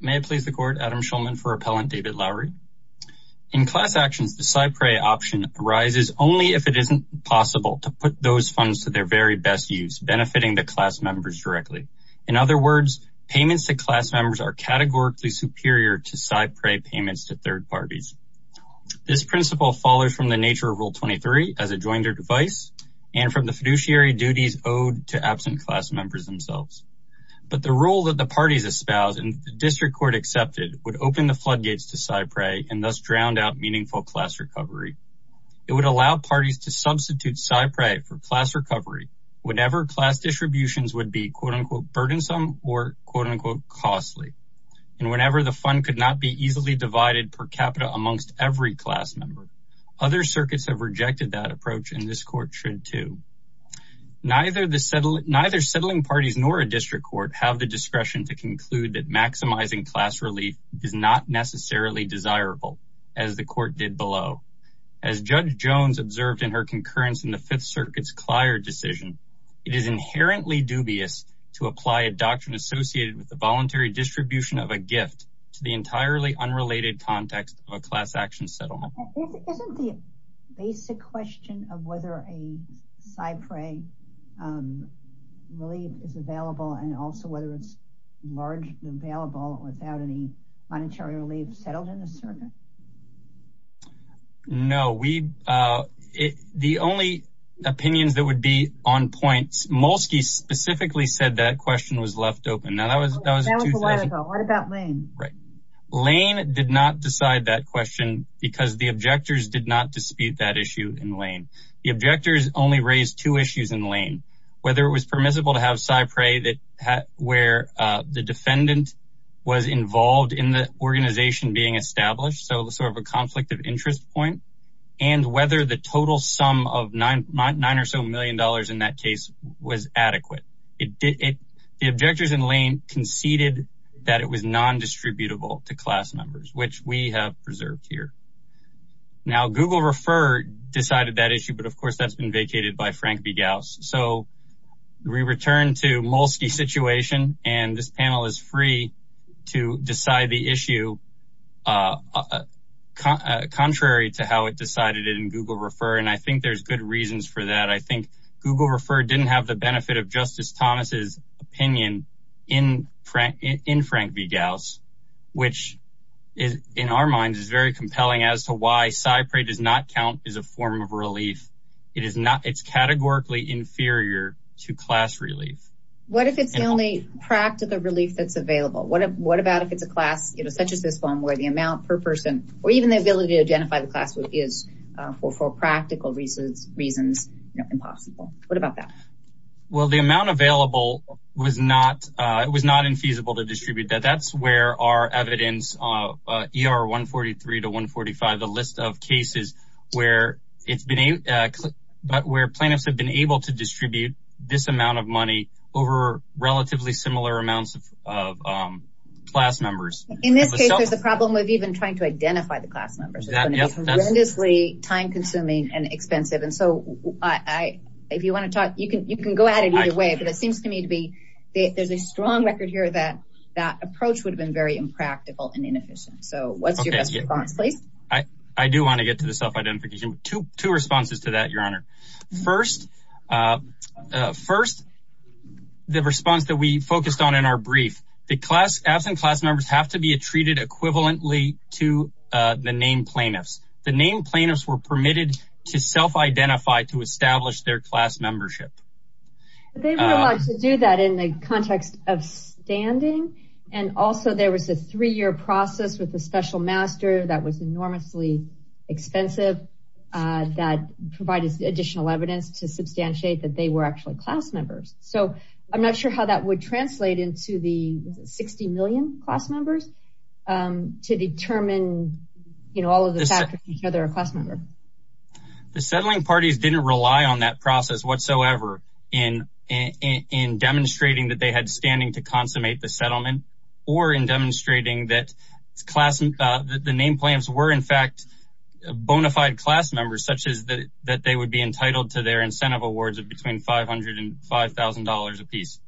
May it please the Court, Adam Schulman for Appellant, David Lowery. In class actions, the side-pray option arises only if it isn't possible to put those funds to their very best use, benefiting the class members directly. In other words, payments to class members are categorically superior to side-pray payments to third parties. This principle follows from the nature of Rule 23, as adjoined or devised, and from the fiduciary duties owed to absent class members themselves. But the rule that the parties espoused and the District Court accepted would open the floodgates to side-pray and thus drown out meaningful class recovery. It would allow parties to substitute side-pray for class recovery whenever class distributions would be quote-unquote burdensome or quote-unquote costly, and whenever the fund could not be easily divided per capita amongst every class member. Other circuits have rejected that approach, and this Court should too. Neither settling parties nor a District Court have the discretion to conclude that maximizing class relief is not necessarily desirable, as the Court did below. As Judge Jones observed in her concurrence in the Fifth Circuit's Clyer decision, it is inherently dubious to apply a doctrine associated with the voluntary distribution of a gift to the entirely unrelated context of a class action settlement. Isn't the basic question of whether a side-pray relief is available and also whether it's largely available without any monetary relief settled in the circuit? No, the only opinions that would be on point, Molsky specifically said that question was left open. That was a while ago. What about Lane? Lane did not decide that question because the objectors did not dispute that issue in Lane. The objectors only raised two issues in Lane. Whether it was permissible to have side-pray where the defendant was involved in the organization being established, so sort of a conflict of interest point, and whether the total sum of nine or so million dollars in that case was adequate. The objectors in Lane conceded that it was non-distributable to class numbers, which we have preserved here. Now Google Refer decided that issue, but of course that's been vacated by Frank Begaus. So we return to Molsky's situation, and this panel is free to decide the issue contrary to how it decided it in Google Refer, and I think there's good reasons for that. I think Google Refer didn't have the benefit of Justice Thomas's opinion in Frank Begaus, which in our minds is very compelling as to why side-pray does not count as a form of relief. It's categorically inferior to class relief. What if it's the only practical relief that's available? What about if it's a class, such as this one, where the amount per person, or even the ability to identify the class is, for practical reasons, impossible? What about that? Well, the amount available was not infeasible to distribute. That's where our evidence, ER 143 to 145, the list of cases where plaintiffs have been able to distribute this amount of money over relatively similar amounts of class members. In this case, there's a problem with even trying to identify the class members. It's going to be tremendously time-consuming and expensive, and so if you want to talk, you can go at it either way, but it seems to me to be, there's a strong record here that that approach would have been very impractical and inefficient. So what's your best response, please? I do want to get to the self-identification. Two responses to that, Your Honor. First, the response that we focused on in our brief. The absent class members have to be treated equivalently to the named plaintiffs. The named plaintiffs were permitted to self-identify to establish their class membership. They were allowed to do that in the context of standing, and also there was a three-year process with the special master that was enormously expensive that provided additional evidence to substantiate that they were actually class members. So I'm not sure how that would translate into the 60 million class members to determine, you know, all of the factors of whether they're a class member. The settling parties didn't rely on that process whatsoever in demonstrating that they had standing to consummate the settlement or in demonstrating that the named plaintiffs were, in fact, bona fide class members, such as that they would be entitled to their incentive awards of between $500 and $5,000 a piece.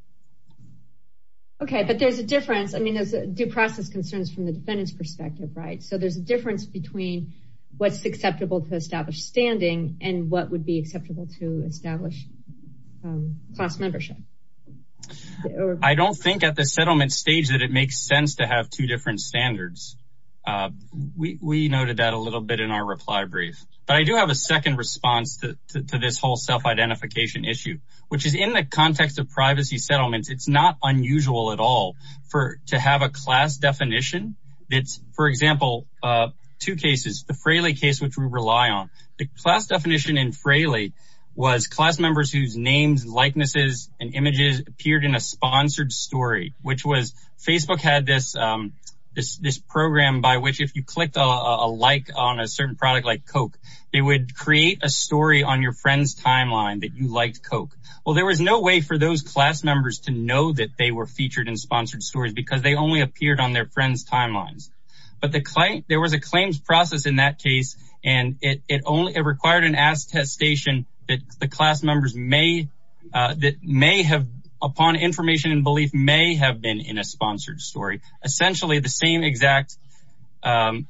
Okay, but there's a difference. I mean, there's due process concerns from the defendant's perspective, right? So there's a difference between what's acceptable to establish standing and what would be acceptable to establish class membership. I don't think at the settlement stage that it makes sense to have two different standards. We noted that a little bit in our reply brief, but I do have a second response to this whole self-identification issue, which is in the context of privacy settlements, it's not unusual at all to have a class definition. For example, two cases, the Fraley case, which we rely on, the class definition in Fraley was class members whose names, likenesses, and images appeared in a sponsored story, which was Facebook had this program by which if you clicked a like on a certain product like Coke, they would create a story on your friend's timeline that you liked Coke. Well, there was no way for those class members to know that they were featured in sponsored stories because they only appeared on their friend's timelines. But there was a claims process in that case, and it required an ass test station that the class members may have upon information and belief may have been in a sponsored story. Essentially the same exact procedure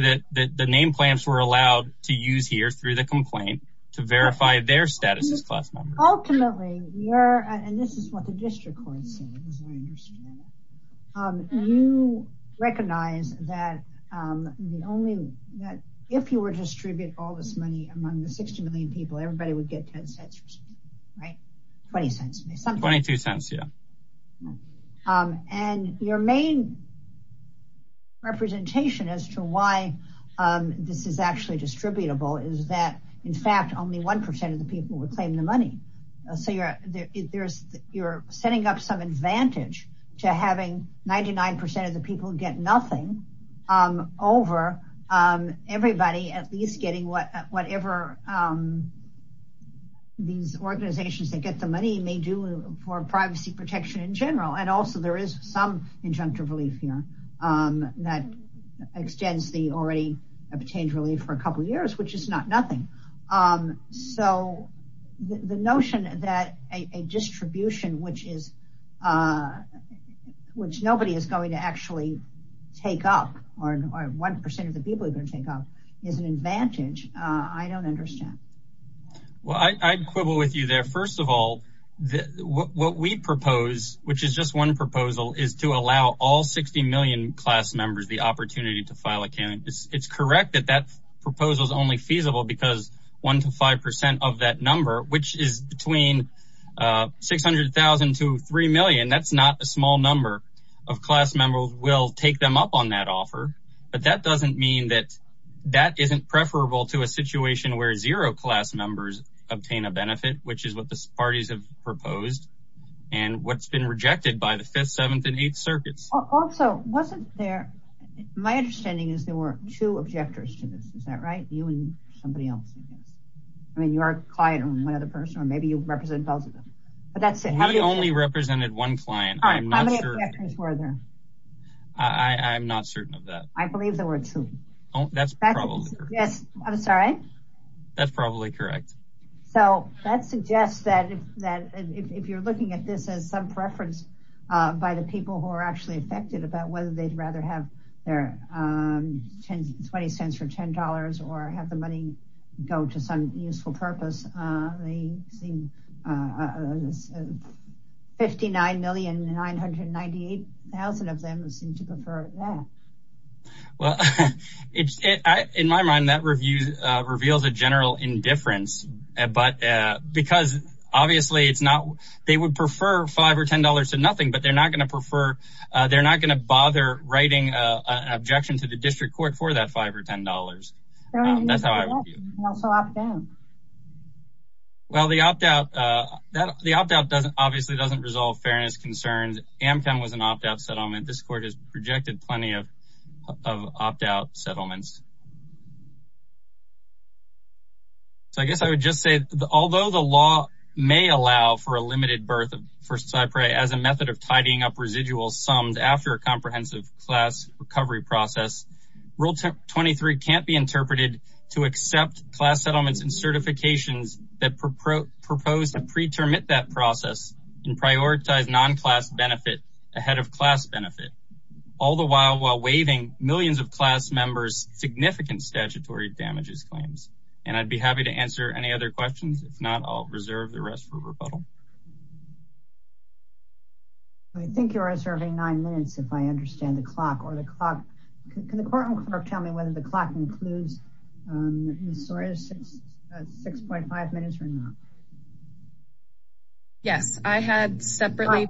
that the name plants were allowed to use here through the complaint to verify their status as class members. Ultimately, and this is what the district court said, you recognize that if you were to distribute all this money among the 60 million people, everybody would get 10 cents, right? 20 cents, 22 cents. Yeah. And your main representation as to why this is actually distributable is that in fact, only 1% of the people would claim the money. So you're setting up some advantage to having 99% of the people get nothing over everybody, at least getting whatever these organizations that get the money may do for privacy protection in general. And also there is some injunctive relief here that extends the already obtained relief for a couple of years, which is not nothing. So the notion that a distribution, which nobody is going to actually take up or 1% of the people are going to take up is an advantage. I don't understand. Well, I'd quibble with you there. First of all, what we propose, which is just one proposal is to allow all 60 million class members, the opportunity to file accounting. It's correct that that proposal is only feasible because 1 to 5% of that number, which is between 600,000 to 3 million, that's not a small number of class members will take them up on that offer. But that doesn't mean that that isn't preferable to a situation where zero class members obtain a benefit, which is what the parties have proposed and what's been rejected by the fifth, seventh, and eighth circuits. Wasn't there, my understanding is there were two objectors to this. Is that right? You and somebody else. I mean, you are a client and one other person, or maybe you represent both of them, we only represented one client. I'm not sure. I'm not certain of that. I believe there were two. That's probably correct. Yes. I'm sorry. That's probably correct. So that suggests that, that if you're looking at this as some preference by the people who are actually affected about whether they'd rather have their 10, 20 cents for $10 or have the money go to some useful purpose, they seem, 59,998,000 of them seem to prefer that. Well, in my mind, that reviews, reveals a general indifference, but because obviously it's not, they would prefer five or $10 to nothing, but they're not going to prefer, they're not going to bother writing an objection to the district court for that five or $10. Well, the opt-out, the opt-out doesn't obviously doesn't resolve fairness concerns. Ampen was an opt-out settlement. This court has projected plenty of, of opt-out settlements. So I guess I would just say, although the law may allow for a limited birth for Cypre as a method of tidying up residual sums after a comprehensive class recovery process, rule 23 can't be interpreted to accept class settlements and certifications that proposed a preterm at that process and prioritize non-class benefit ahead of class benefit all the while, while waiving millions of class members, significant statutory damages claims. And I'd be happy to answer any other questions. If not, I'll reserve the rest for the court. Can the court tell me whether the clock includes Ms. Sawyer's 6.5 minutes or not? Yes, I had separately.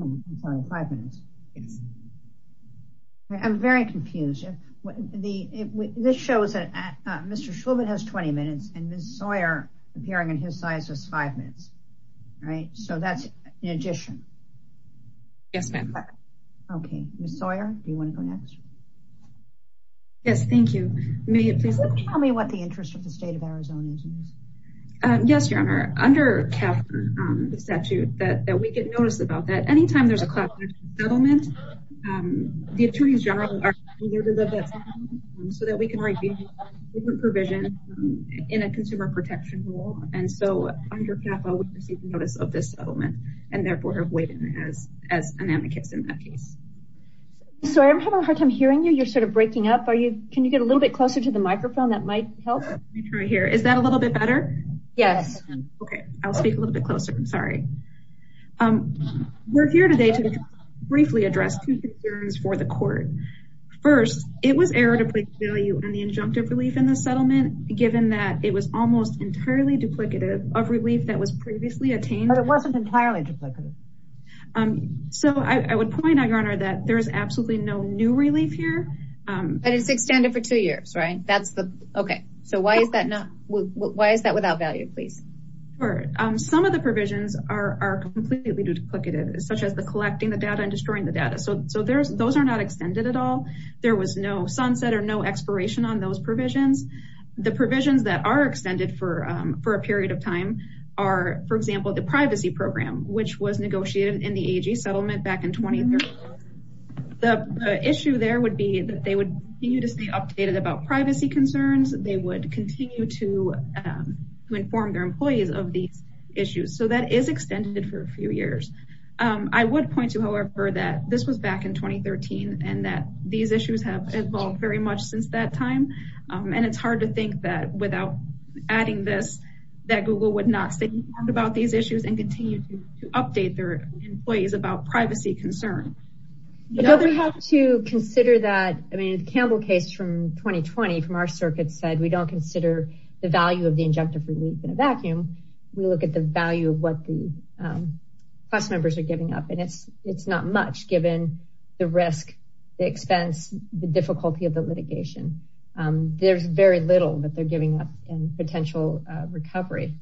I'm very confused. This shows that Mr. Schulman has 20 minutes and Ms. Sawyer appearing in his size was five minutes. Right. So that's in addition. Yes, ma'am. Okay. Ms. Sawyer, do you want to go next? Yes, thank you. May it please tell me what the interest of the state of Arizona is? Yes, your honor under the statute that we get noticed about that anytime there's a class settlement, the attorneys general are so that we can write different provisions in a consumer protection rule. And so under CAFA, we received notice of this settlement and therefore have waived it as an amicus in that case. Sorry, I'm having a hard time hearing you. You're sort of breaking up. Can you get a little bit closer to the microphone? That might help. Let me try here. Is that a little bit better? Yes. Okay. I'll speak a little bit closer. I'm sorry. We're here today to briefly address two concerns for the court. First, it was error to place value on the injunctive relief in the given that it was almost entirely duplicative of relief that was previously attained. But it wasn't entirely duplicative. So I would point out, your honor, that there's absolutely no new relief here. But it's extended for two years, right? That's the, okay. So why is that not? Why is that without value, please? Some of the provisions are completely duplicative, such as the collecting the data and destroying the data. So those are not extended at all. There was no sunset or no expiration on those provisions. The provisions that are extended for a period of time are, for example, the privacy program, which was negotiated in the AG settlement back in 2013. The issue there would be that they would continue to stay updated about privacy concerns. They would continue to inform their employees of these issues. So that is extended for a few years. I would point to, however, that this was back in 2013. So these issues have evolved very much since that time. And it's hard to think that without adding this, that Google would not sit and talk about these issues and continue to update their employees about privacy concern. We have to consider that. I mean, the Campbell case from 2020 from our circuit said, we don't consider the value of the injunctive relief in a vacuum. We look at the value of what the class members are giving up. And it's not much given the risk, the expense, the difficulty of the litigation. There's very little that they're giving up in potential recovery.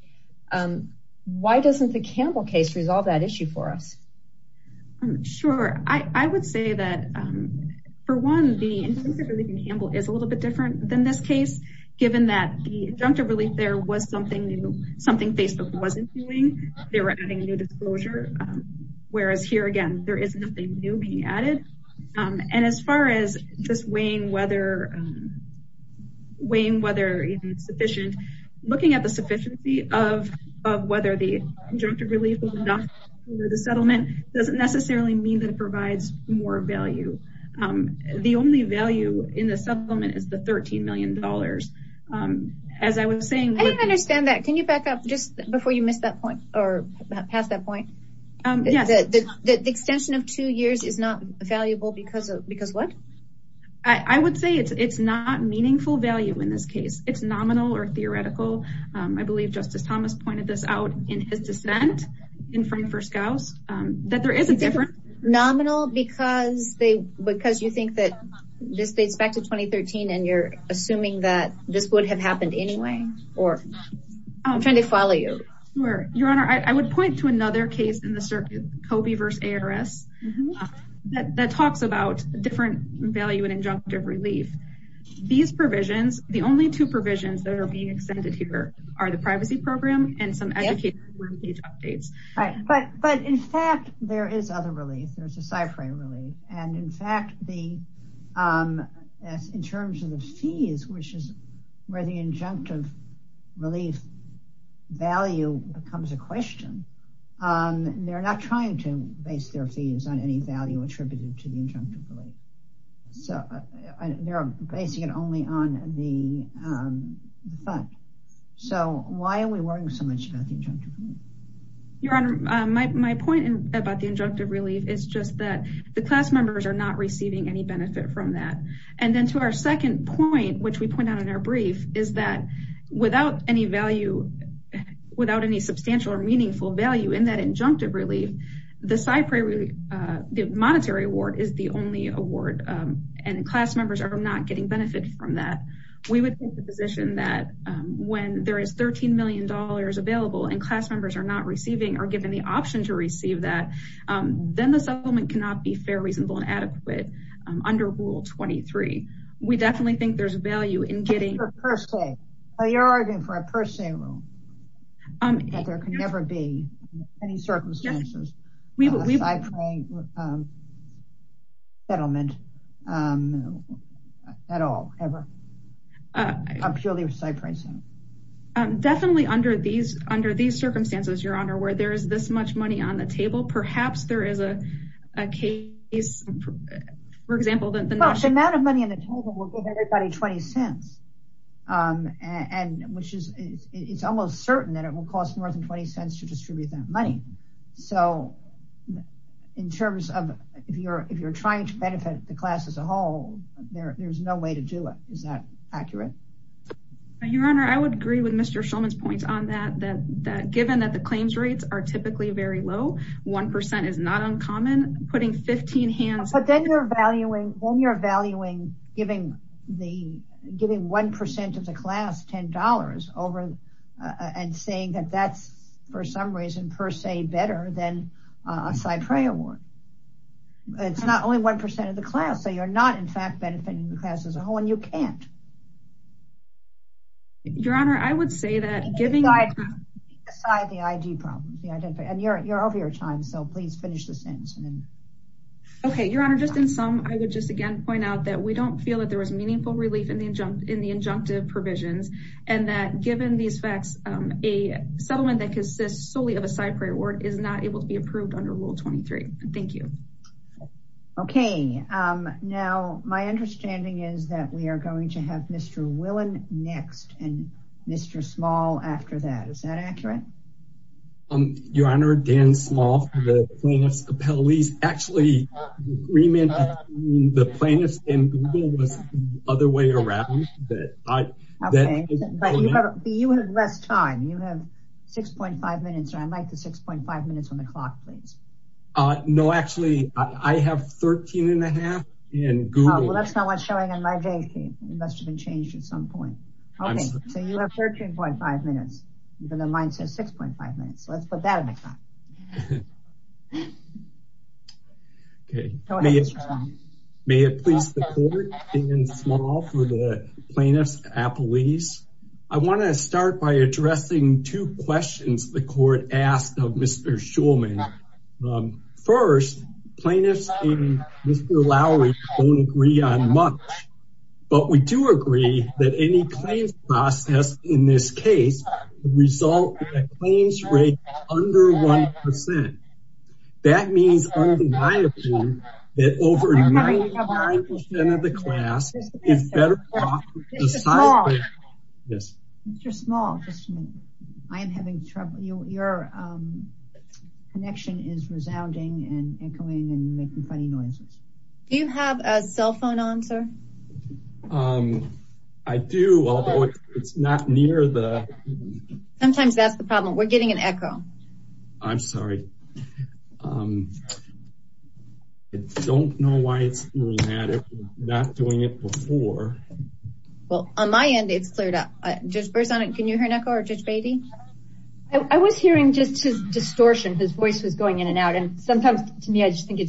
Why doesn't the Campbell case resolve that issue for us? Sure. I would say that for one, the injunctive relief in Campbell is a little bit different than this case, given that the injunctive relief there was something new, something Facebook wasn't doing. They were adding new disclosure. Whereas here again, there is nothing new being added. And as far as just weighing whether it's sufficient, looking at the sufficiency of whether the injunctive relief was enough for the settlement doesn't necessarily mean that it provides more value. The only value in the settlement is the $13 million. As I was saying- I didn't understand that. Can you back up just before you missed that point or passed that point? The extension of two years is not valuable because of what? I would say it's not meaningful value in this case. It's nominal or theoretical. I believe Justice Thomas pointed this out in his dissent in front of first scouts that there is a difference. Nominal because you think that this dates back to 2013 and you're assuming that this would have to another case in the circuit, Kobe versus ARS that talks about different value and injunctive relief. These provisions, the only two provisions that are being extended here are the privacy program and some educational updates. Right. But in fact, there is other relief. There's a cyphering relief. And in fact, in terms of the fees, which is where the injunctive relief value becomes a question, they're not trying to base their fees on any value attributed to the injunctive relief. So they're basing it only on the fund. So why are we worrying so much about the injunctive relief? Your Honor, my point about the injunctive relief is just that the class members are not receiving any benefit from that. And then to our second point, which we point out in our brief, is that without any value, without any substantial or meaningful value in that injunctive relief, the monetary award is the only award and class members are not getting benefit from that. We would take the position that when there is $13 million available and class members are not receiving or given the option to receive that, then the settlement cannot be fair, reasonable, and adequate under Rule 23. We definitely think there's value in getting... But you're arguing for a per se rule. There can never be any circumstances of a cyphering settlement at all, ever. Definitely under these circumstances, Your Honor, where there is this much money on the table, perhaps there is a case, for example... The amount of money in the table will give everybody $0.20. It's almost certain that it will cost more than $0.20 to distribute that money. So if you're trying to benefit the class as a whole, there's no way to do it. Is that accurate? Your Honor, I would agree with Mr. Schulman's points on that. Given that the claims rates are typically very low, 1% is not uncommon, putting 15 hands... But then you're valuing giving 1% of the class $10 and saying that that's, for some reason, per se better than a CyPREA award. It's not only 1% of the class. So you're not, in fact, benefiting the class as a whole and you can't. Your Honor, I would say that giving... Aside the ID problem, and you're over your time, so please finish the sentence. Okay, Your Honor, just in sum, I would just again point out that we don't feel that there was meaningful relief in the injunctive provisions and that given these facts, a settlement that consists solely of a CyPREA award is not able to be approved under Rule 23. Thank you. Okay. Now, my understanding is that we are going to have Mr. Willen next and Mr. Small after that. Is that accurate? Your Honor, Dan Small, the plaintiff's appellee. Actually, the agreement between the plaintiffs and Google was the other way around. But you have less time. You have 6.5 minutes. I'd like the 6.5 minutes on the clock, please. No, actually, I have 13 and a half and Google... Well, that's not what's showing on my date sheet. It must have been changed at some point. Okay, so you have 13.5 minutes, even though mine says 6.5 minutes. Let's put that on the clock. Okay. May it please the court, Dan Small for the plaintiff's appellees. I want to start by addressing two questions the court asked of Mr. Shulman. First, plaintiffs and Mr. Lowry don't agree on much, but we do agree that any claims process in this case result in a claims rate under 1%. That means, undeniably, that over 99% of the class is better off with a side claim. Mr. Small, I am having trouble. Your connection is resounding and echoing and making funny noises. Do you have a cell phone on, sir? I do, although it's not near the... Sometimes that's the problem. We're getting an echo. I'm sorry. I don't know why it's doing that. It's not doing it before. Well, on my end, it's cleared up. Judge Berzon, can you hear an echo or Judge Beatty? I was hearing just his distortion. His voice was going in and out. Sometimes, to me, I just think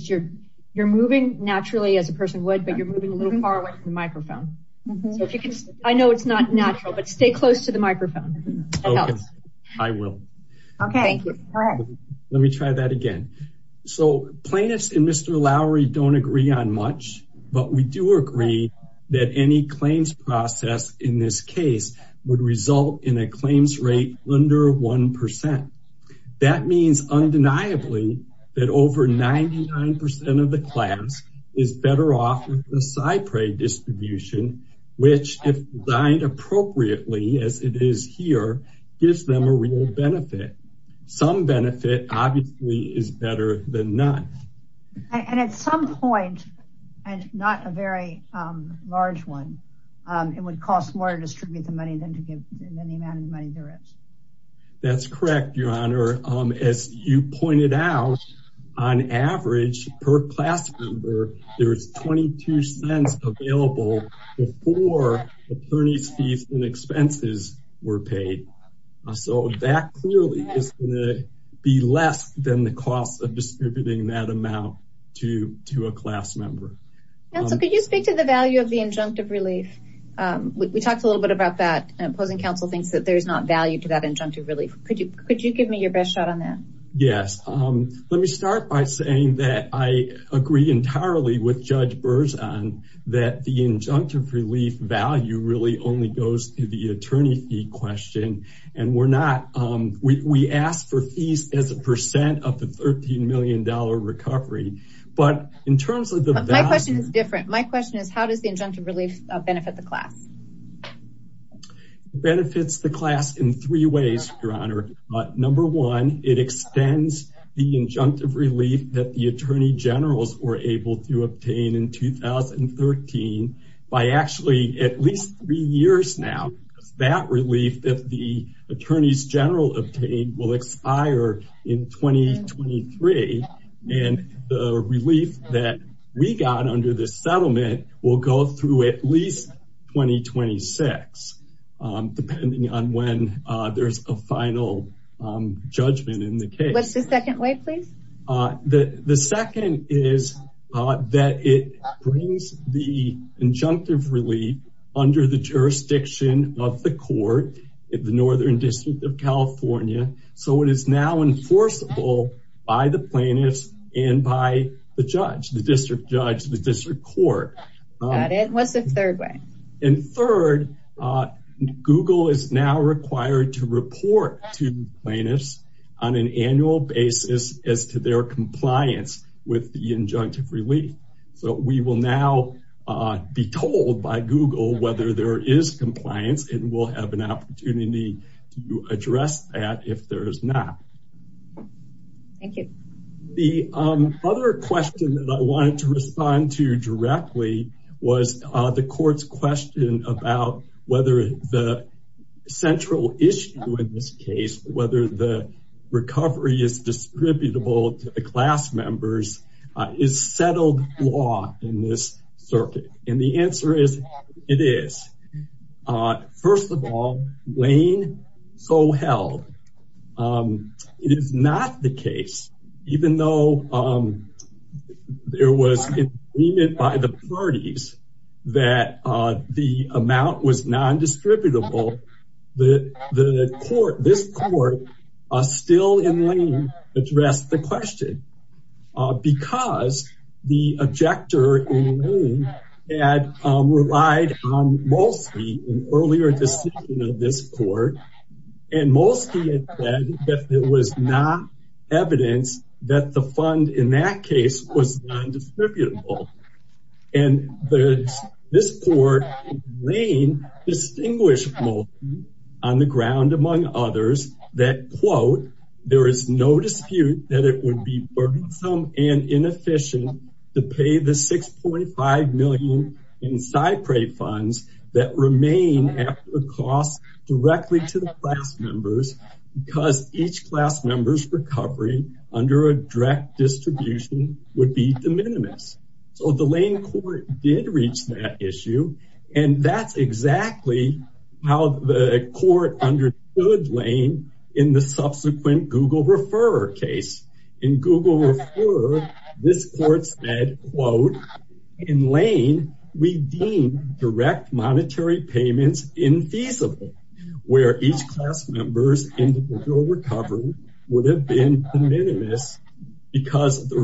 you're moving naturally as a person would, but you're moving a little far away from the microphone. I know it's not natural, but stay close to the microphone. I will. Let me try that again. Plaintiffs and Mr. Lowry don't agree on much, but we do agree that any claims process in this case would result in a claims rate under 1%. That means, undeniably, that over 99% of the claims is better off with the SIPRE distribution, which, if designed appropriately as it is here, gives them a real benefit. Some benefit, obviously, is better than none. At some point, and not a very large one, it would cost more to distribute the money than to give the amount of money there is. That's correct, Your Honor. As you pointed out, on average, per class member, there is $0.22 available before attorney's fees and expenses were paid. That clearly is going to be less than the cost of distributing that amount to a class member. Could you speak to the value of the injunctive relief? We talked a little bit about that. There is not value to that injunctive relief. Could you give me your best shot on that? Yes. Let me start by saying that I agree entirely with Judge Berzon that the injunctive relief value really only goes to the attorney fee question. We ask for fees as a percent of the $13 million recovery. My question is different. My question is, how does the injunctive relief benefit the class? It benefits the class in three ways, Your Honor. Number one, it extends the injunctive relief that the attorney generals were able to obtain in 2013 by actually at least three years now. That relief that the attorneys general obtained will expire in 2023. The relief that we got under the settlement will go through at least 2026, depending on when there's a final judgment in the case. What's the second way, please? The second is that it brings the injunctive relief under the jurisdiction of the court in the Northern District of California. It is now enforceable by the plaintiffs and by the judge, the district judge, the district court. Got it. What's the third way? Third, Google is now required to report to plaintiffs on an annual basis as to their compliance with the injunctive relief. We will now be told by Google whether there is compliance, and we'll have an opportunity to address that if there is not. Thank you. The other question that I wanted to respond to directly was the court's question about whether the central issue in this case, whether the recovery is distributable to the First of all, Lane so held. It is not the case, even though there was agreement by the parties that the amount was non-distributable, this court still in Lane addressed the question because the objector in Lane had relied on Molsky, an earlier decision of this court, and Molsky had said that there was not evidence that the fund in that case was non-distributable. And this court in Lane distinguished Molsky on the ground among others that, quote, there is no dispute that it would be burdensome and inefficient to pay the $6.5 million in SIPRE funds that remain after the cost directly to the class members because each class member's recovery under a direct distribution would be de minimis. So the Lane court did reach that issue, and that's exactly how the court understood Lane in the subsequent Google Referrer case. In Google Referrer, this court said, quote, in Lane, we deemed direct monetary payments infeasible where each class member's individual recovery would have been de minimis because the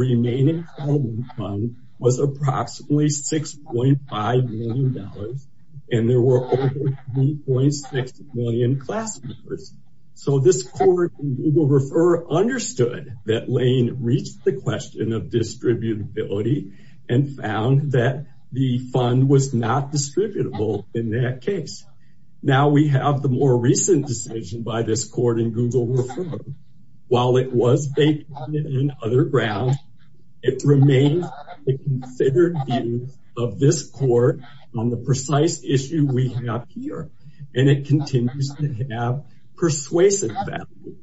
and there were over 3.6 million class members. So this court in Google Referrer understood that Lane reached the question of distributability and found that the fund was not distributable in that case. Now we have the more recent decision by this court in Google Referrer. While it was based on other grounds, it remains a considered view of this court on the precise issue we have here, and it continues to have persuasive value.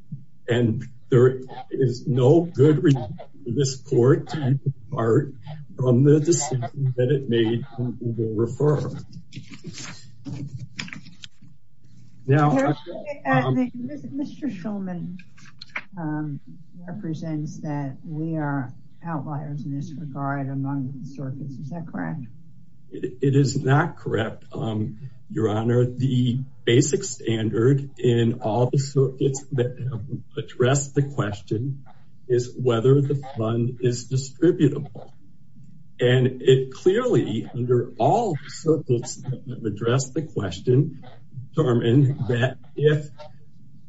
And there is no good reason for this court to depart from the decision that it made in Google Referrer. Now, Mr. Shulman represents that we are outliers in this regard among the circuits. Is that correct? It is not correct, Your Honor. The basic standard in all the circuits that address the question is whether the fund is distributable. And it clearly, under all the circuits that address the question, determine that if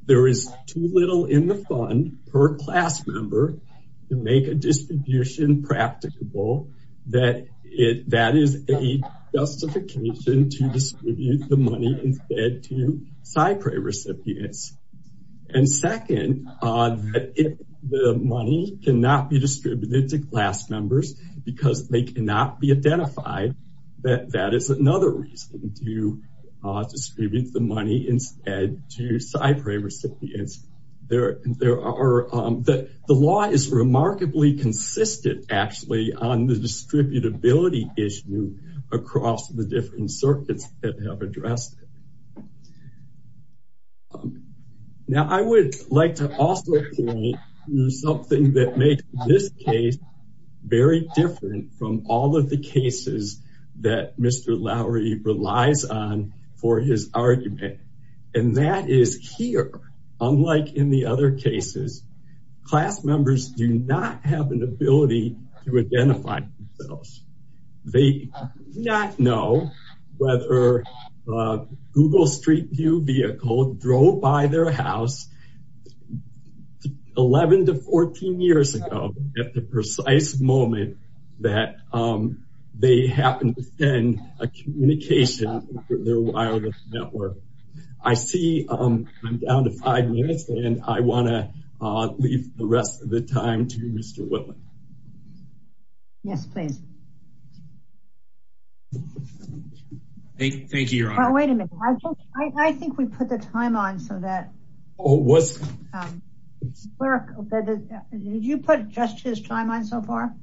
there is too little in the fund per class member to make a distribution practicable, that is a justification to distribute the money instead to class members. And second, if the money cannot be distributed to class members because they cannot be identified, that is another reason to distribute the money instead to SIPRE recipients. The law is remarkably consistent, actually, on the distributability issue across the different circuits that have addressed it. Now, I would like to also point to something that makes this case very different from all of the cases that Mr. Lowery relies on for his argument. And that is here, unlike in the other cases, class members do not have an ability to identify themselves. They do not know whether Google Street View vehicle drove by their house 11 to 14 years ago at the precise moment that they happened to send a communication through their wireless network. I see I'm down to five minutes and I want to leave the rest of the time to Mr. Whitman. Yes, please. Thank you, Your Honor. Wait a minute. I think we put the time on so that... Did you put just his time on so far?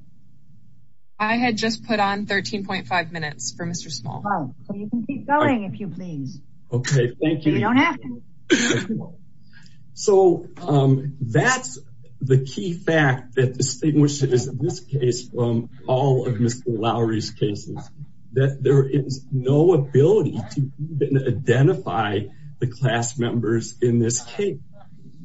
I had just put on 13.5 minutes for Mr. Small. So you can keep going if you please. Okay, thank you. You don't have to. So that's the key fact that distinguishes this case from all of Mr. Lowery's cases, that there is no ability to even identify the class members in this case.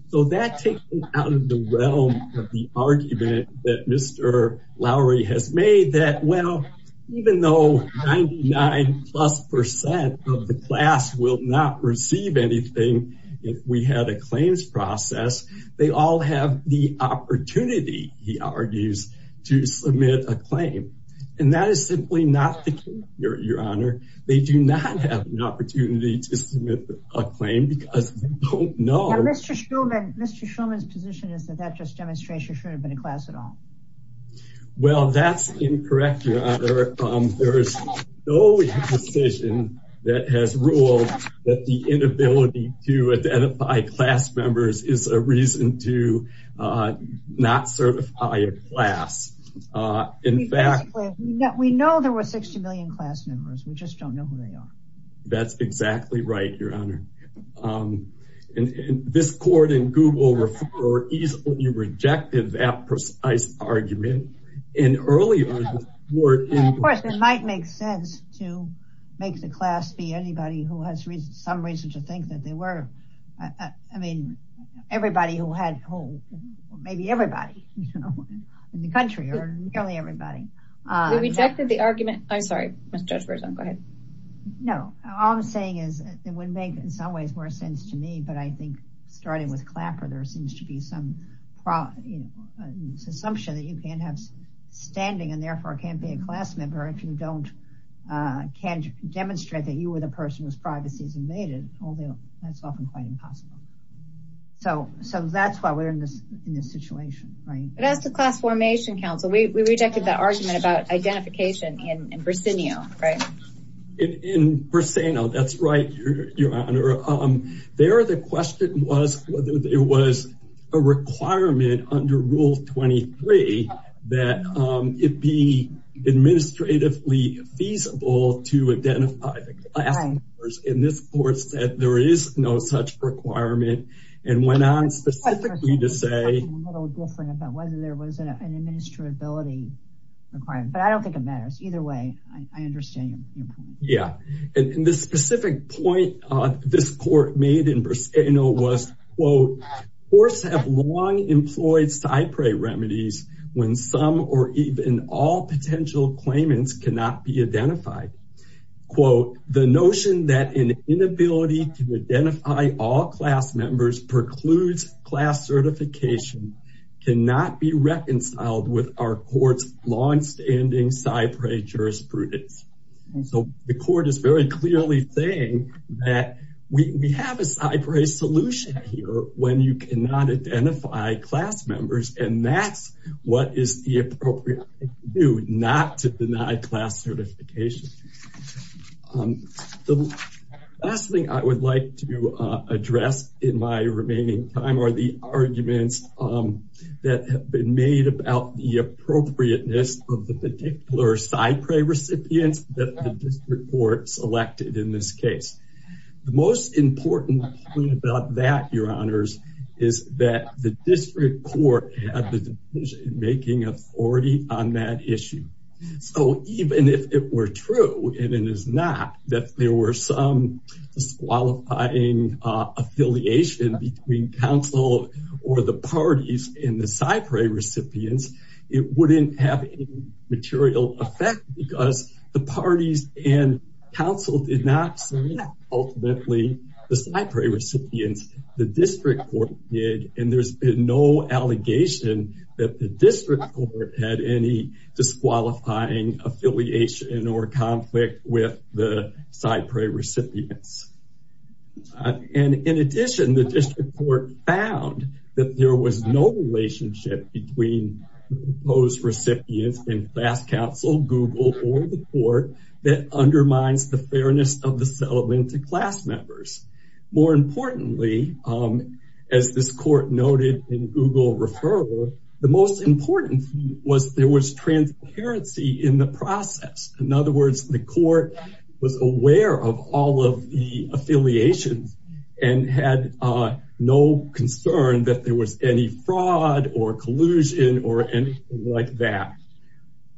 So that takes them out of the realm of the argument that Mr. Lowery has made that well, even though 99 plus percent of the class will not receive anything, if we had a claims process, they all have the opportunity, he argues, to submit a claim. And that is simply not the case, Your Honor. They do not have an opportunity to submit a claim because they don't know... Mr. Schulman's position is that that just demonstrates you shouldn't have been in class at all. Well, that's incorrect, Your Honor. There is no decision that has ruled that the inability to identify class members is a reason to not certify a class. In fact... We know there were 60 million class members. We just don't know who they are. That's exactly right, Your Honor. And this court in Google easily rejected that precise argument. And earlier... Of course, it might make sense to make the class be anybody who has some reason to think that they were... I mean, everybody who had... Maybe everybody in the country or nearly everybody. We rejected the argument. I'm sorry, Judge Berzon. Go ahead. No. All I'm saying is it would make in some ways more sense to me. But I think starting with Clapper, there seems to be some assumption that you can't have standing and therefore can't be a class member if you don't can't demonstrate that you were the person whose privacy is invaded, although that's often quite impossible. So that's why we're in this situation, right? But as the Class Formation Council, we rejected that argument about identification in Bricinio, right? In Bricino, that's right, Your Honor. There, the question was whether there was a requirement under Rule 23 that it be administratively feasible to identify the class members. And this court said there is no such requirement and went on specifically to say... It's a little different about whether there was an administrability requirement, but I don't think it matters. Either way, I understand your point. Yeah. And the specific point this court made in Bricino was, quote, courts have long employed cypre remedies when some or even all potential claimants cannot be identified. Quote, the notion that an inability to identify all class members precludes class certification cannot be reconciled with our court's longstanding cypre jurisprudence. So the court is very clearly saying that we have a cypre solution here when you cannot identify class members, and that's what is the appropriate thing to do, not to deny class certification. The last thing I would like to address in my remaining time are the arguments that have been made about the appropriateness of the particular cypre recipients that the district court selected in this case. The most important point about that, Your Honors, is that the district court had the decision-making authority on that issue. So even if it were true, and it is not, that there were some disqualifying affiliation between council or the parties in the cypre recipients, it wouldn't have any material effect because the parties and council did not select ultimately the cypre recipients. The district court did, and there's been no allegation that the district court had any disqualifying affiliation or conflict with the cypre recipients. And in addition, the district court found that there was no relationship between those recipients and class council, Google, or the court that undermines the fairness of the elementary class members. More importantly, as this court noted in Google referral, the most important was there was transparency in the process. In other words, the court was aware of all of the affiliations and had no concern that there was any fraud or collusion or anything like that.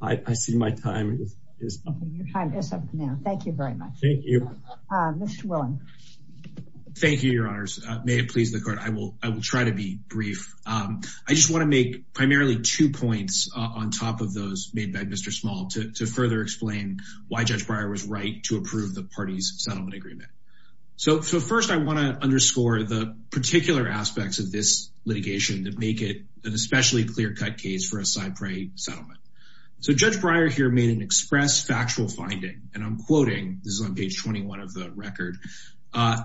I see my time is up. Your time is up, Mayor. Thank you very much. Thank you. Mr. Willing. Thank you, Your Honors. May it please the court, I will try to be brief. I just want to make primarily two points on top of those made by Mr. Small to further explain why Judge Breyer was right to approve the parties settlement agreement. So first, I want to underscore the particular aspects of this litigation that make it an especially clear-cut case for a cypre settlement. So Judge Breyer here made an express factual finding, and I'm quoting, this is on page 21 of the record,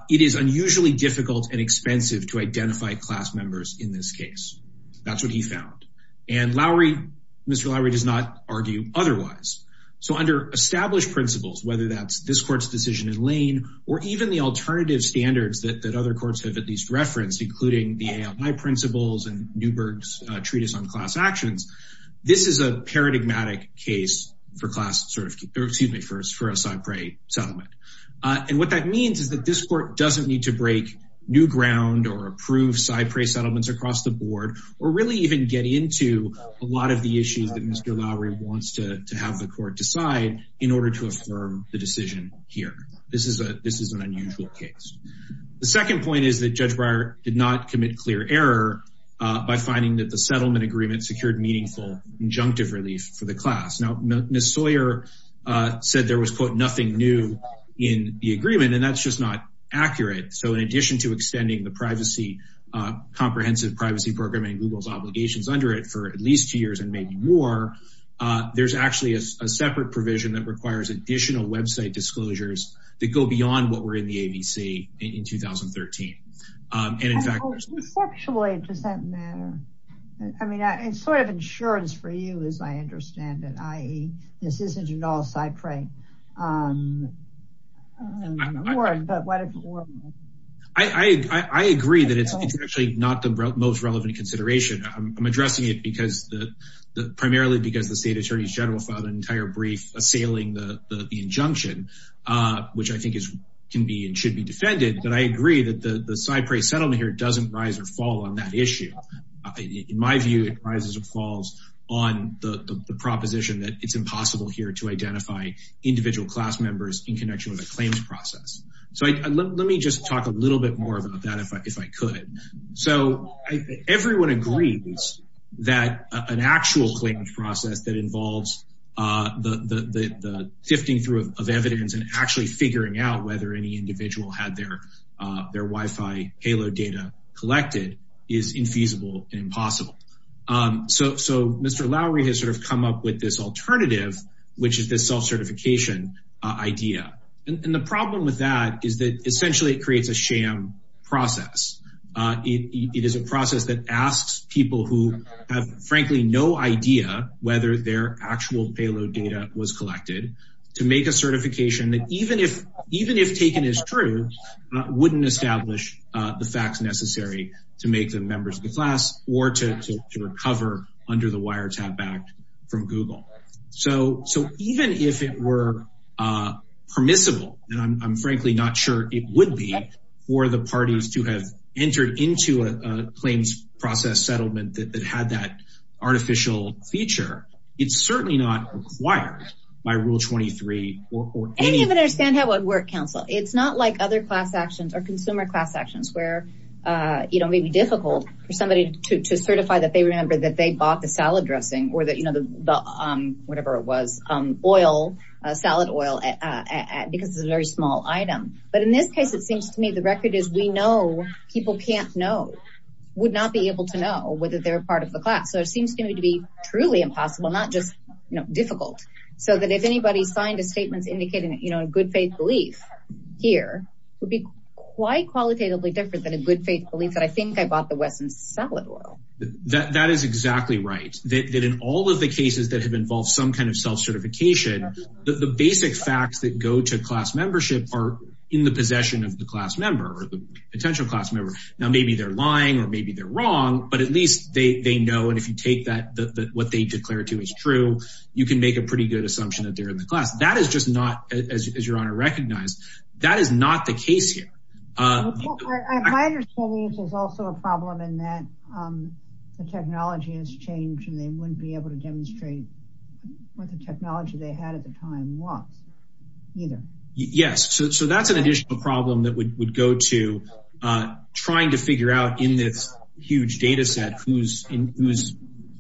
it is unusually difficult and expensive to identify class members in this case. That's what he found. And Mr. Lowery does not argue otherwise. So under established principles, whether that's this court's decision in Lane or even the alternative standards that other courts have referenced, including the principles and Newberg's treatise on class actions, this is a paradigmatic case for a cypre settlement. And what that means is that this court doesn't need to break new ground or approve cypre settlements across the board, or really even get into a lot of the issues that Mr. Lowery wants to have the court decide in order to affirm the decision here. This is an unusual case. The second point is that Judge Breyer did not commit clear error by finding that the settlement agreement secured meaningful injunctive relief for the class. Now, Ms. Sawyer said there was, quote, nothing new in the agreement, and that's just not accurate. So in addition to extending the comprehensive privacy program and Google's obligations under it for at least two years and maybe more, there's actually a separate provision that requires additional website disclosures that go beyond what were in the ABC in 2013. And in fact, I mean, it's sort of insurance for you, as I understand it, i.e. this isn't at all cypre. I agree that it's actually not the most relevant consideration. I'm addressing it because the, primarily because the state attorney general filed an entire brief assailing the injunction, which I think can be and should be defended. But I agree that the cypre settlement here doesn't rise or fall on that issue. In my view, it rises or falls on the proposition that it's impossible here to identify individual class members in connection with a claims process. So let me just talk a little bit more about that if I could. So everyone agrees that an actual claims process that involves the sifting through of evidence and actually figuring out whether any individual had their Wi-Fi payload data collected is infeasible and impossible. So Mr. Lowry has sort of come up with this alternative, which is this self-certification idea. And the problem with is that essentially it creates a sham process. It is a process that asks people who have frankly no idea whether their actual payload data was collected to make a certification that even if taken as true, wouldn't establish the facts necessary to make them members of the class or to recover under the wiretap act from Google. So even if it were permissible, and I'm frankly not sure it would be, for the parties to have entered into a claims process settlement that had that artificial feature, it's certainly not required by Rule 23. I don't even understand how it would work, counsel. It's not like other class actions or consumer class actions where it may be difficult for somebody to certify that they remember that they bought the salad dressing or whatever it was, oil, salad oil, because it's a very small item. But in this case, it seems to me the record is we know people can't know, would not be able to know whether they're a part of the class. So it seems to me to be truly impossible, not just difficult. So that if anybody signed a statement indicating a good faith belief here would be quite qualitatively different than a good faith belief that I think I bought the Western salad oil. That is exactly right. That in all of the cases that have involved some kind of self-certification, the basic facts that go to class membership are in the possession of the class member or the potential class member. Now, maybe they're lying or maybe they're wrong, but at least they know, and if you take that, what they declare to is true, you can make a pretty good assumption that they're in the class. That is just not, as your honor recognized, that is not the case here. My understanding is there's also a problem in that the technology has changed and they wouldn't be able to demonstrate what the technology they had at the time was either. Yes. So that's an additional problem that would go to trying to figure out in this huge data set whose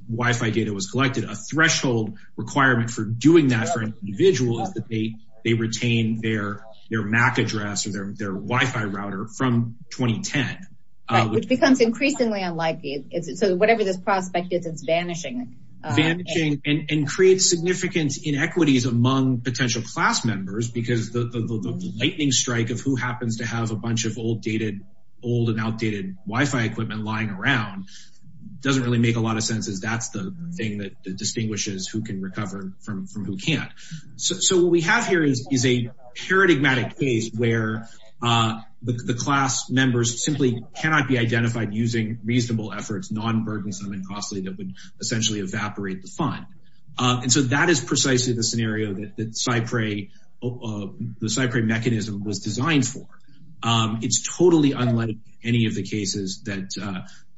Wi-Fi data was collected, a threshold requirement for doing that for an individual is that they retain their Mac address or their Wi-Fi router from 2010. Which becomes increasingly unlikely. So whatever this prospect is, it's vanishing. Vanishing and creates significant inequities among potential class members because the lightning strike of who happens to have a bunch of old and outdated Wi-Fi equipment lying around doesn't really make a lot of sense as that's the thing that distinguishes who can recover from who can't. So what we have here is a paradigmatic case where the class members simply cannot be identified using reasonable efforts, non-burdensome and costly, that would essentially evaporate the fund. And so that is precisely the scenario that the Cyprey mechanism was designed for. It's totally unlike any of the cases that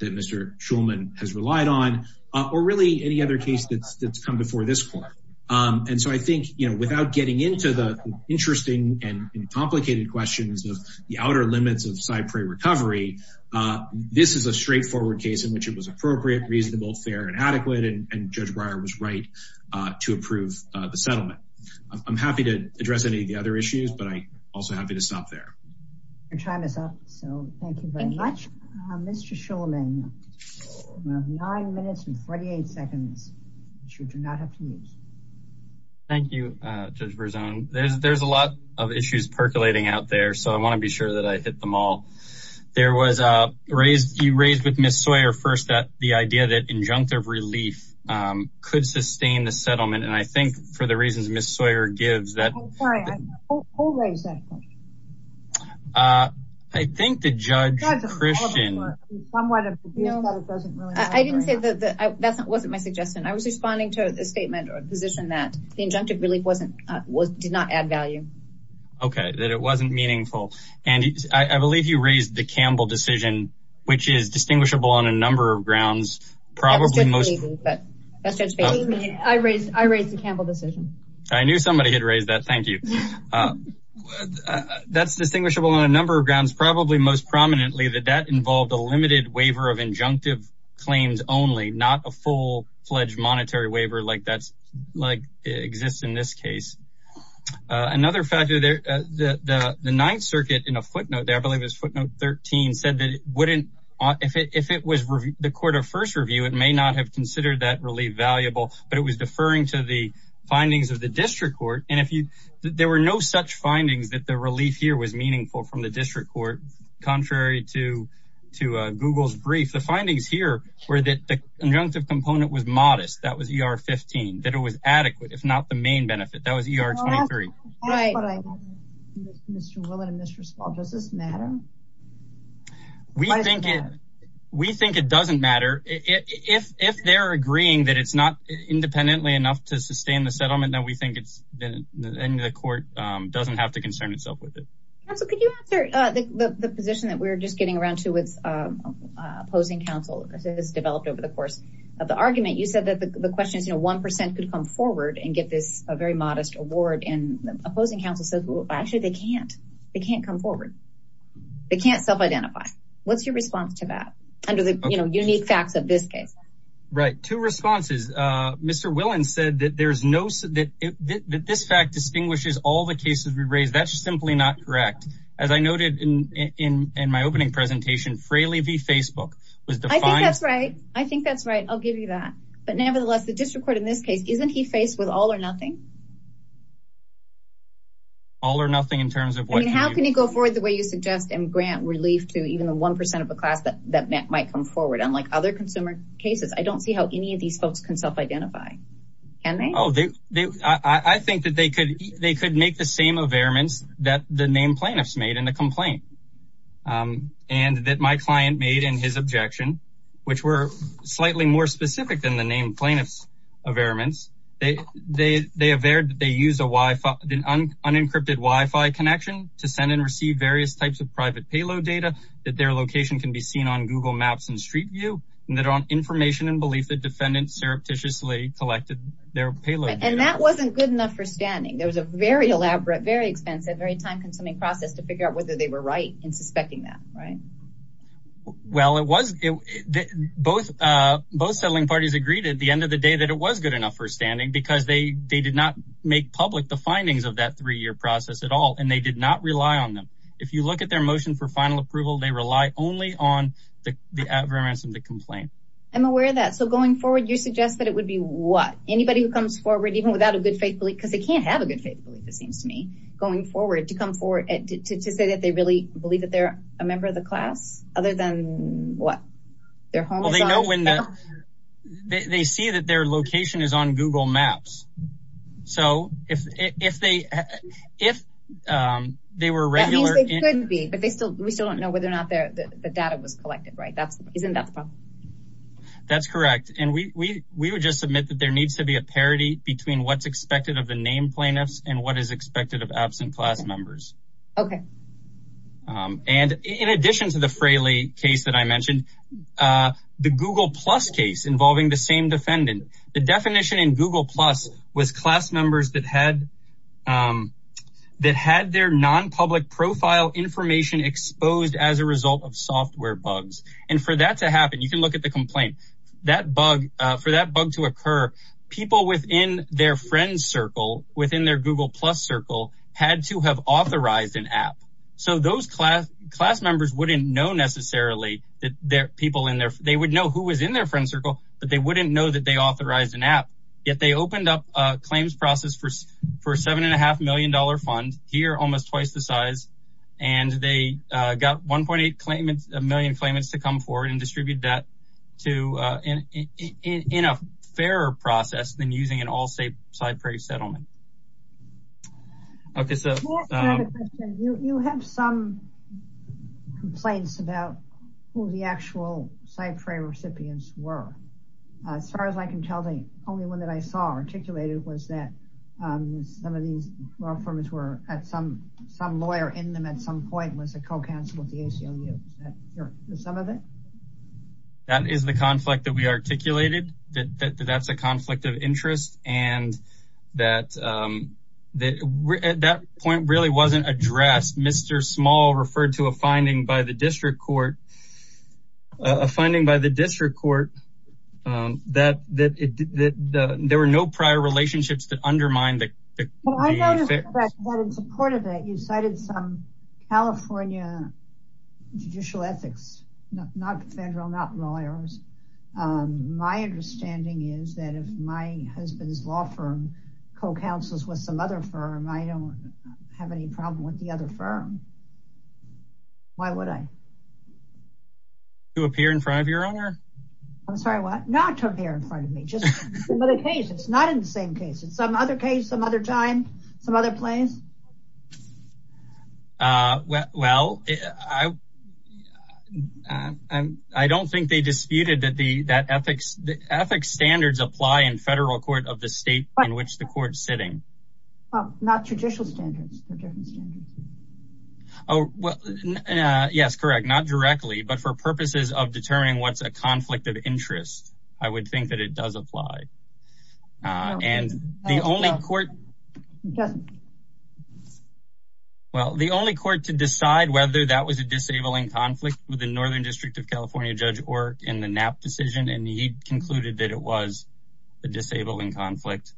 Mr. Shulman has relied on, or really any other case that's come before this court. And so I think, you know, without getting into the interesting and complicated questions of the outer limits of Cyprey recovery, this is a straightforward case in which it was appropriate, reasonable, fair and adequate. And Judge Breyer was right to approve the settlement. I'm happy to address any of the other issues, but I'm also happy to stop there. Your time is up. So thank you very much. Mr. Shulman, you have nine minutes and 48 seconds that you do not have to use. Thank you, Judge Verzone. There's a lot of issues percolating out there, so I want to be sure that I hit them all. You raised with Ms. Sawyer first that the idea that injunctive relief could sustain the settlement. And I think for the reasons Ms. Sawyer gives that... I'm sorry, who raised that question? I think the Judge Christian... I didn't say that. That wasn't my suggestion. I was responding to a statement or a position that the injunctive relief did not add value. Okay, that it wasn't meaningful. And I believe you raised the Campbell decision, which is distinguishable on a number of grounds. I raised the Campbell decision. I knew somebody had raised that. Thank you. That's distinguishable on a number of grounds, probably most prominently that that involved a limited waiver of injunctive claims only, not a full-fledged monetary waiver like exists in this case. Another factor there, the Ninth Circuit in a footnote there, I believe it was footnote 13, said that if it was the court of first review, it may not have considered that relief valuable, but it was deferring to the findings of the district court. And there were no such findings that the relief here was meaningful from the district court, contrary to Google's brief. The findings here were that the injunctive component was modest. That was ER 15, that it was adequate, if not the main benefit. That was ER 23. Mr. Willett and Mr. Spall, does this matter? We think it doesn't matter. If they're agreeing that it's not independently enough to sustain the settlement, then we think the court doesn't have to concern itself with it. Counsel, could you answer the position that we're just getting around to with opposing counsel, as it has developed over the course of the argument? You said that the question is, you know, 1% could come forward and get this very modest award, and opposing can't come forward. They can't self-identify. What's your response to that, under the unique facts of this case? Right. Two responses. Mr. Willett said that this fact distinguishes all the cases we've raised. That's simply not correct. As I noted in my opening presentation, Fraley v. Facebook. I think that's right. I'll give you that. But nevertheless, the district court in this case, isn't he faced with all or nothing? All or nothing in terms of what? I mean, how can you go forward the way you suggest and grant relief to even the 1% of a class that might come forward? Unlike other consumer cases, I don't see how any of these folks can self-identify. Can they? Oh, I think that they could make the same averments that the named plaintiffs made in the complaint, and that my client made in his objection, which were slightly more specific than named plaintiffs' averments. They averred that they used an unencrypted Wi-Fi connection to send and receive various types of private payload data, that their location can be seen on Google Maps and Street View, and that on information and belief, the defendant surreptitiously collected their payload data. And that wasn't good enough for standing. There was a very elaborate, very expensive, very time-consuming process to figure out whether they were right in suspecting that, right? Well, it was, both settling parties agreed at the end of the day that it was good enough for standing because they did not make public the findings of that three-year process at all, and they did not rely on them. If you look at their motion for final approval, they rely only on the averments of the complaint. I'm aware of that. So going forward, you suggest that it would be what? Anybody who comes forward, even without a good faith belief, because they can't have a good faith belief, it seems to me, going forward, to come forward, to say that they really believe that they're a member of the class, other than what? Well, they know when the, they see that their location is on Google Maps. So if they, if they were regular. That means they could be, but they still, we still don't know whether or not the data was collected, right? That's, isn't that the problem? That's correct. And we would just submit that there needs to be a parity between what's expected of the named plaintiffs and what is expected of absent class members. Okay. And in addition to the Fraley case that I mentioned, the Google Plus case involving the same defendant, the definition in Google Plus was class members that had, that had their non-public profile information exposed as a result of software bugs. And for that to happen, you can look at the complaint, that bug, for that bug to occur, people within their friend circle, within their Google Plus circle had to have authorized an app. So those class, class members wouldn't know necessarily that their people in there, they would know who was in their friend circle, but they wouldn't know that they authorized an app. Yet they opened up a claims process for, for seven and a half million dollar fund here, almost twice the size. And they got 1.8 claimants, a million claimants to come forward and distribute that to in, in, in, in a fairer process than using an all state CyPray settlement. Okay. So you have some complaints about who the actual CyPray recipients were. As far as I can tell the only one that I saw articulated was that some of these law firms were at some, some lawyer in them some point was a co-counsel with the ACLU. Is that some of it? That is the conflict that we articulated. That, that, that's a conflict of interest. And that, um, that we're at that point really wasn't addressed. Mr. Small referred to a finding by the district court, a finding by the district court, um, that, that, that, that there were no prior relationships that undermined that. Well, I noticed that in support of it, you cited some California judicial ethics, not federal, not lawyers. Um, my understanding is that if my husband's law firm co-counsels with some other firm, I don't have any problem with the other firm. Why would I? To appear in front of your owner? I'm sorry, what? Not to appear in front of me, it's not in the same case. It's some other case, some other time, some other place. Uh, well, I, I, um, I don't think they disputed that the, that ethics, ethics standards apply in federal court of the state in which the court's sitting. Not judicial standards. Oh, well, uh, yes, correct. Not directly, but for purposes of law. Uh, and the only court, well, the only court to decide whether that was a disabling conflict with the Northern district of California judge or in the Knapp decision. And he concluded that it was a disabling conflict.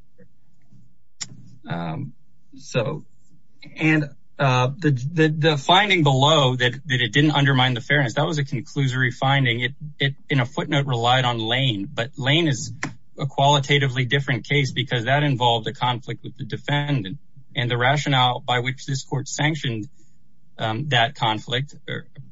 Um, so, and, uh, the, the, the finding below that, that it didn't undermine the fairness. That was a conclusory finding. It, it in a footnote relied on lane, but lane is a qualitatively different case because that involved a conflict with the defendant and the rationale by which this court sanctioned. Um, that conflict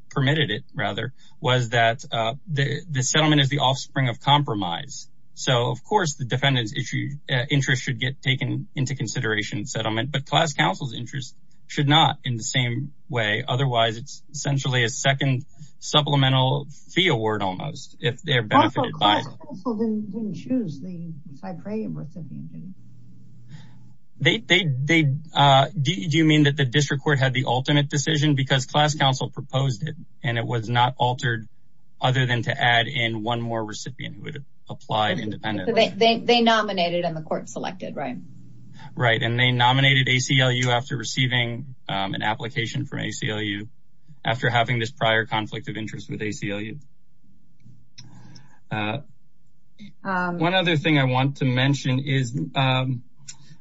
permitted it rather was that, uh, the, the settlement is the offspring of compromise. So of course the defendant's issue interest should get taken into consideration settlement, but class counsel's interests should not in the same way. Otherwise it's essentially a second supplemental fee award if they're benefited by it. They, they, they, uh, do you mean that the district court had the ultimate decision because class counsel proposed it and it was not altered other than to add in one more recipient who would have applied independently. They nominated and the court selected. Right. Right. And they nominated ACLU after receiving an application from ACLU after having this prior conflict of interest with ACLU. Uh, one other thing I want to mention is, um,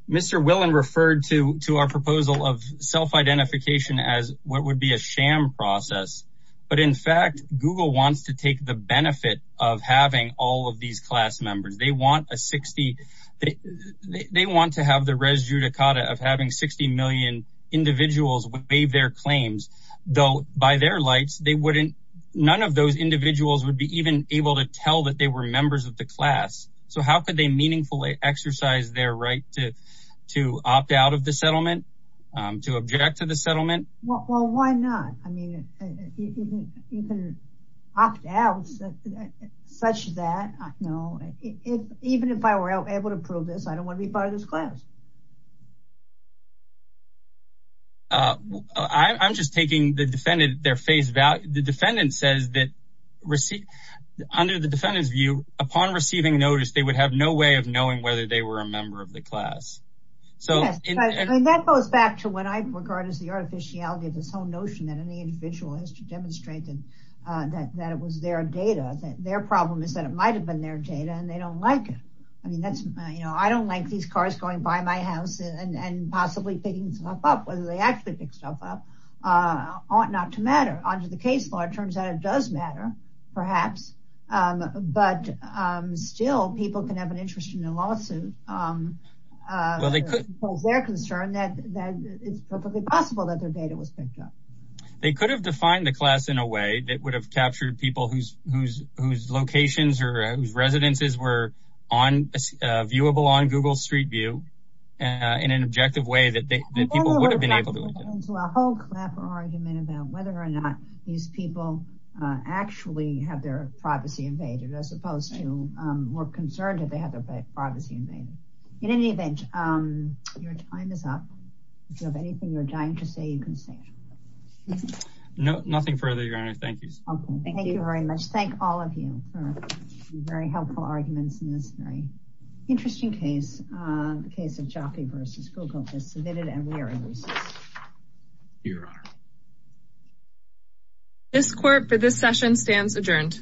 Mr. Willen referred to, to our proposal of self-identification as what would be a sham process. But in fact, Google wants to take the benefit of having all of these class members. They want a 60, they, they want to have the by their lights. They wouldn't, none of those individuals would be even able to tell that they were members of the class. So how could they meaningfully exercise their right to, to opt out of the settlement, um, to object to the settlement? Well, why not? I mean, you can opt out such that I know if, even if I were able to prove this, I don't want to be part of this class. Uh, I, I'm just taking the defendant, their face value. The defendant says that receive under the defendant's view upon receiving notice, they would have no way of knowing whether they were a member of the class. So that goes back to what I regard as the artificiality of this whole notion that any individual has to demonstrate that, uh, that, that it was their data. Their problem is that it might've been their data and they don't like it. I mean, that's, uh, you know, I don't like these cars going by my house and, and possibly picking stuff up whether they actually pick stuff up, uh, ought not to matter under the case law. It turns out it does matter perhaps. Um, but, um, still people can have an interest in a lawsuit. Um, uh, well, they could pose their concern that, that it's perfectly possible that their data was picked up. They could have defined the class in a way that would have captured people whose, whose, whose locations or whose Google street view, uh, in an objective way that people would have been able to. I wonder what would happen to a whole clapper argument about whether or not these people, uh, actually have their privacy invaded as opposed to, um, were concerned that they had their privacy invaded. In any event, um, your time is up. If you have anything you're dying to say, you can say it. No, nothing further, your honor. Thank you. Thank you very much. Thank all of you for very helpful arguments in this very interesting case. Uh, the case of Jaffe versus Google has submitted and we are in recess. Your honor. This court for this session stands adjourned.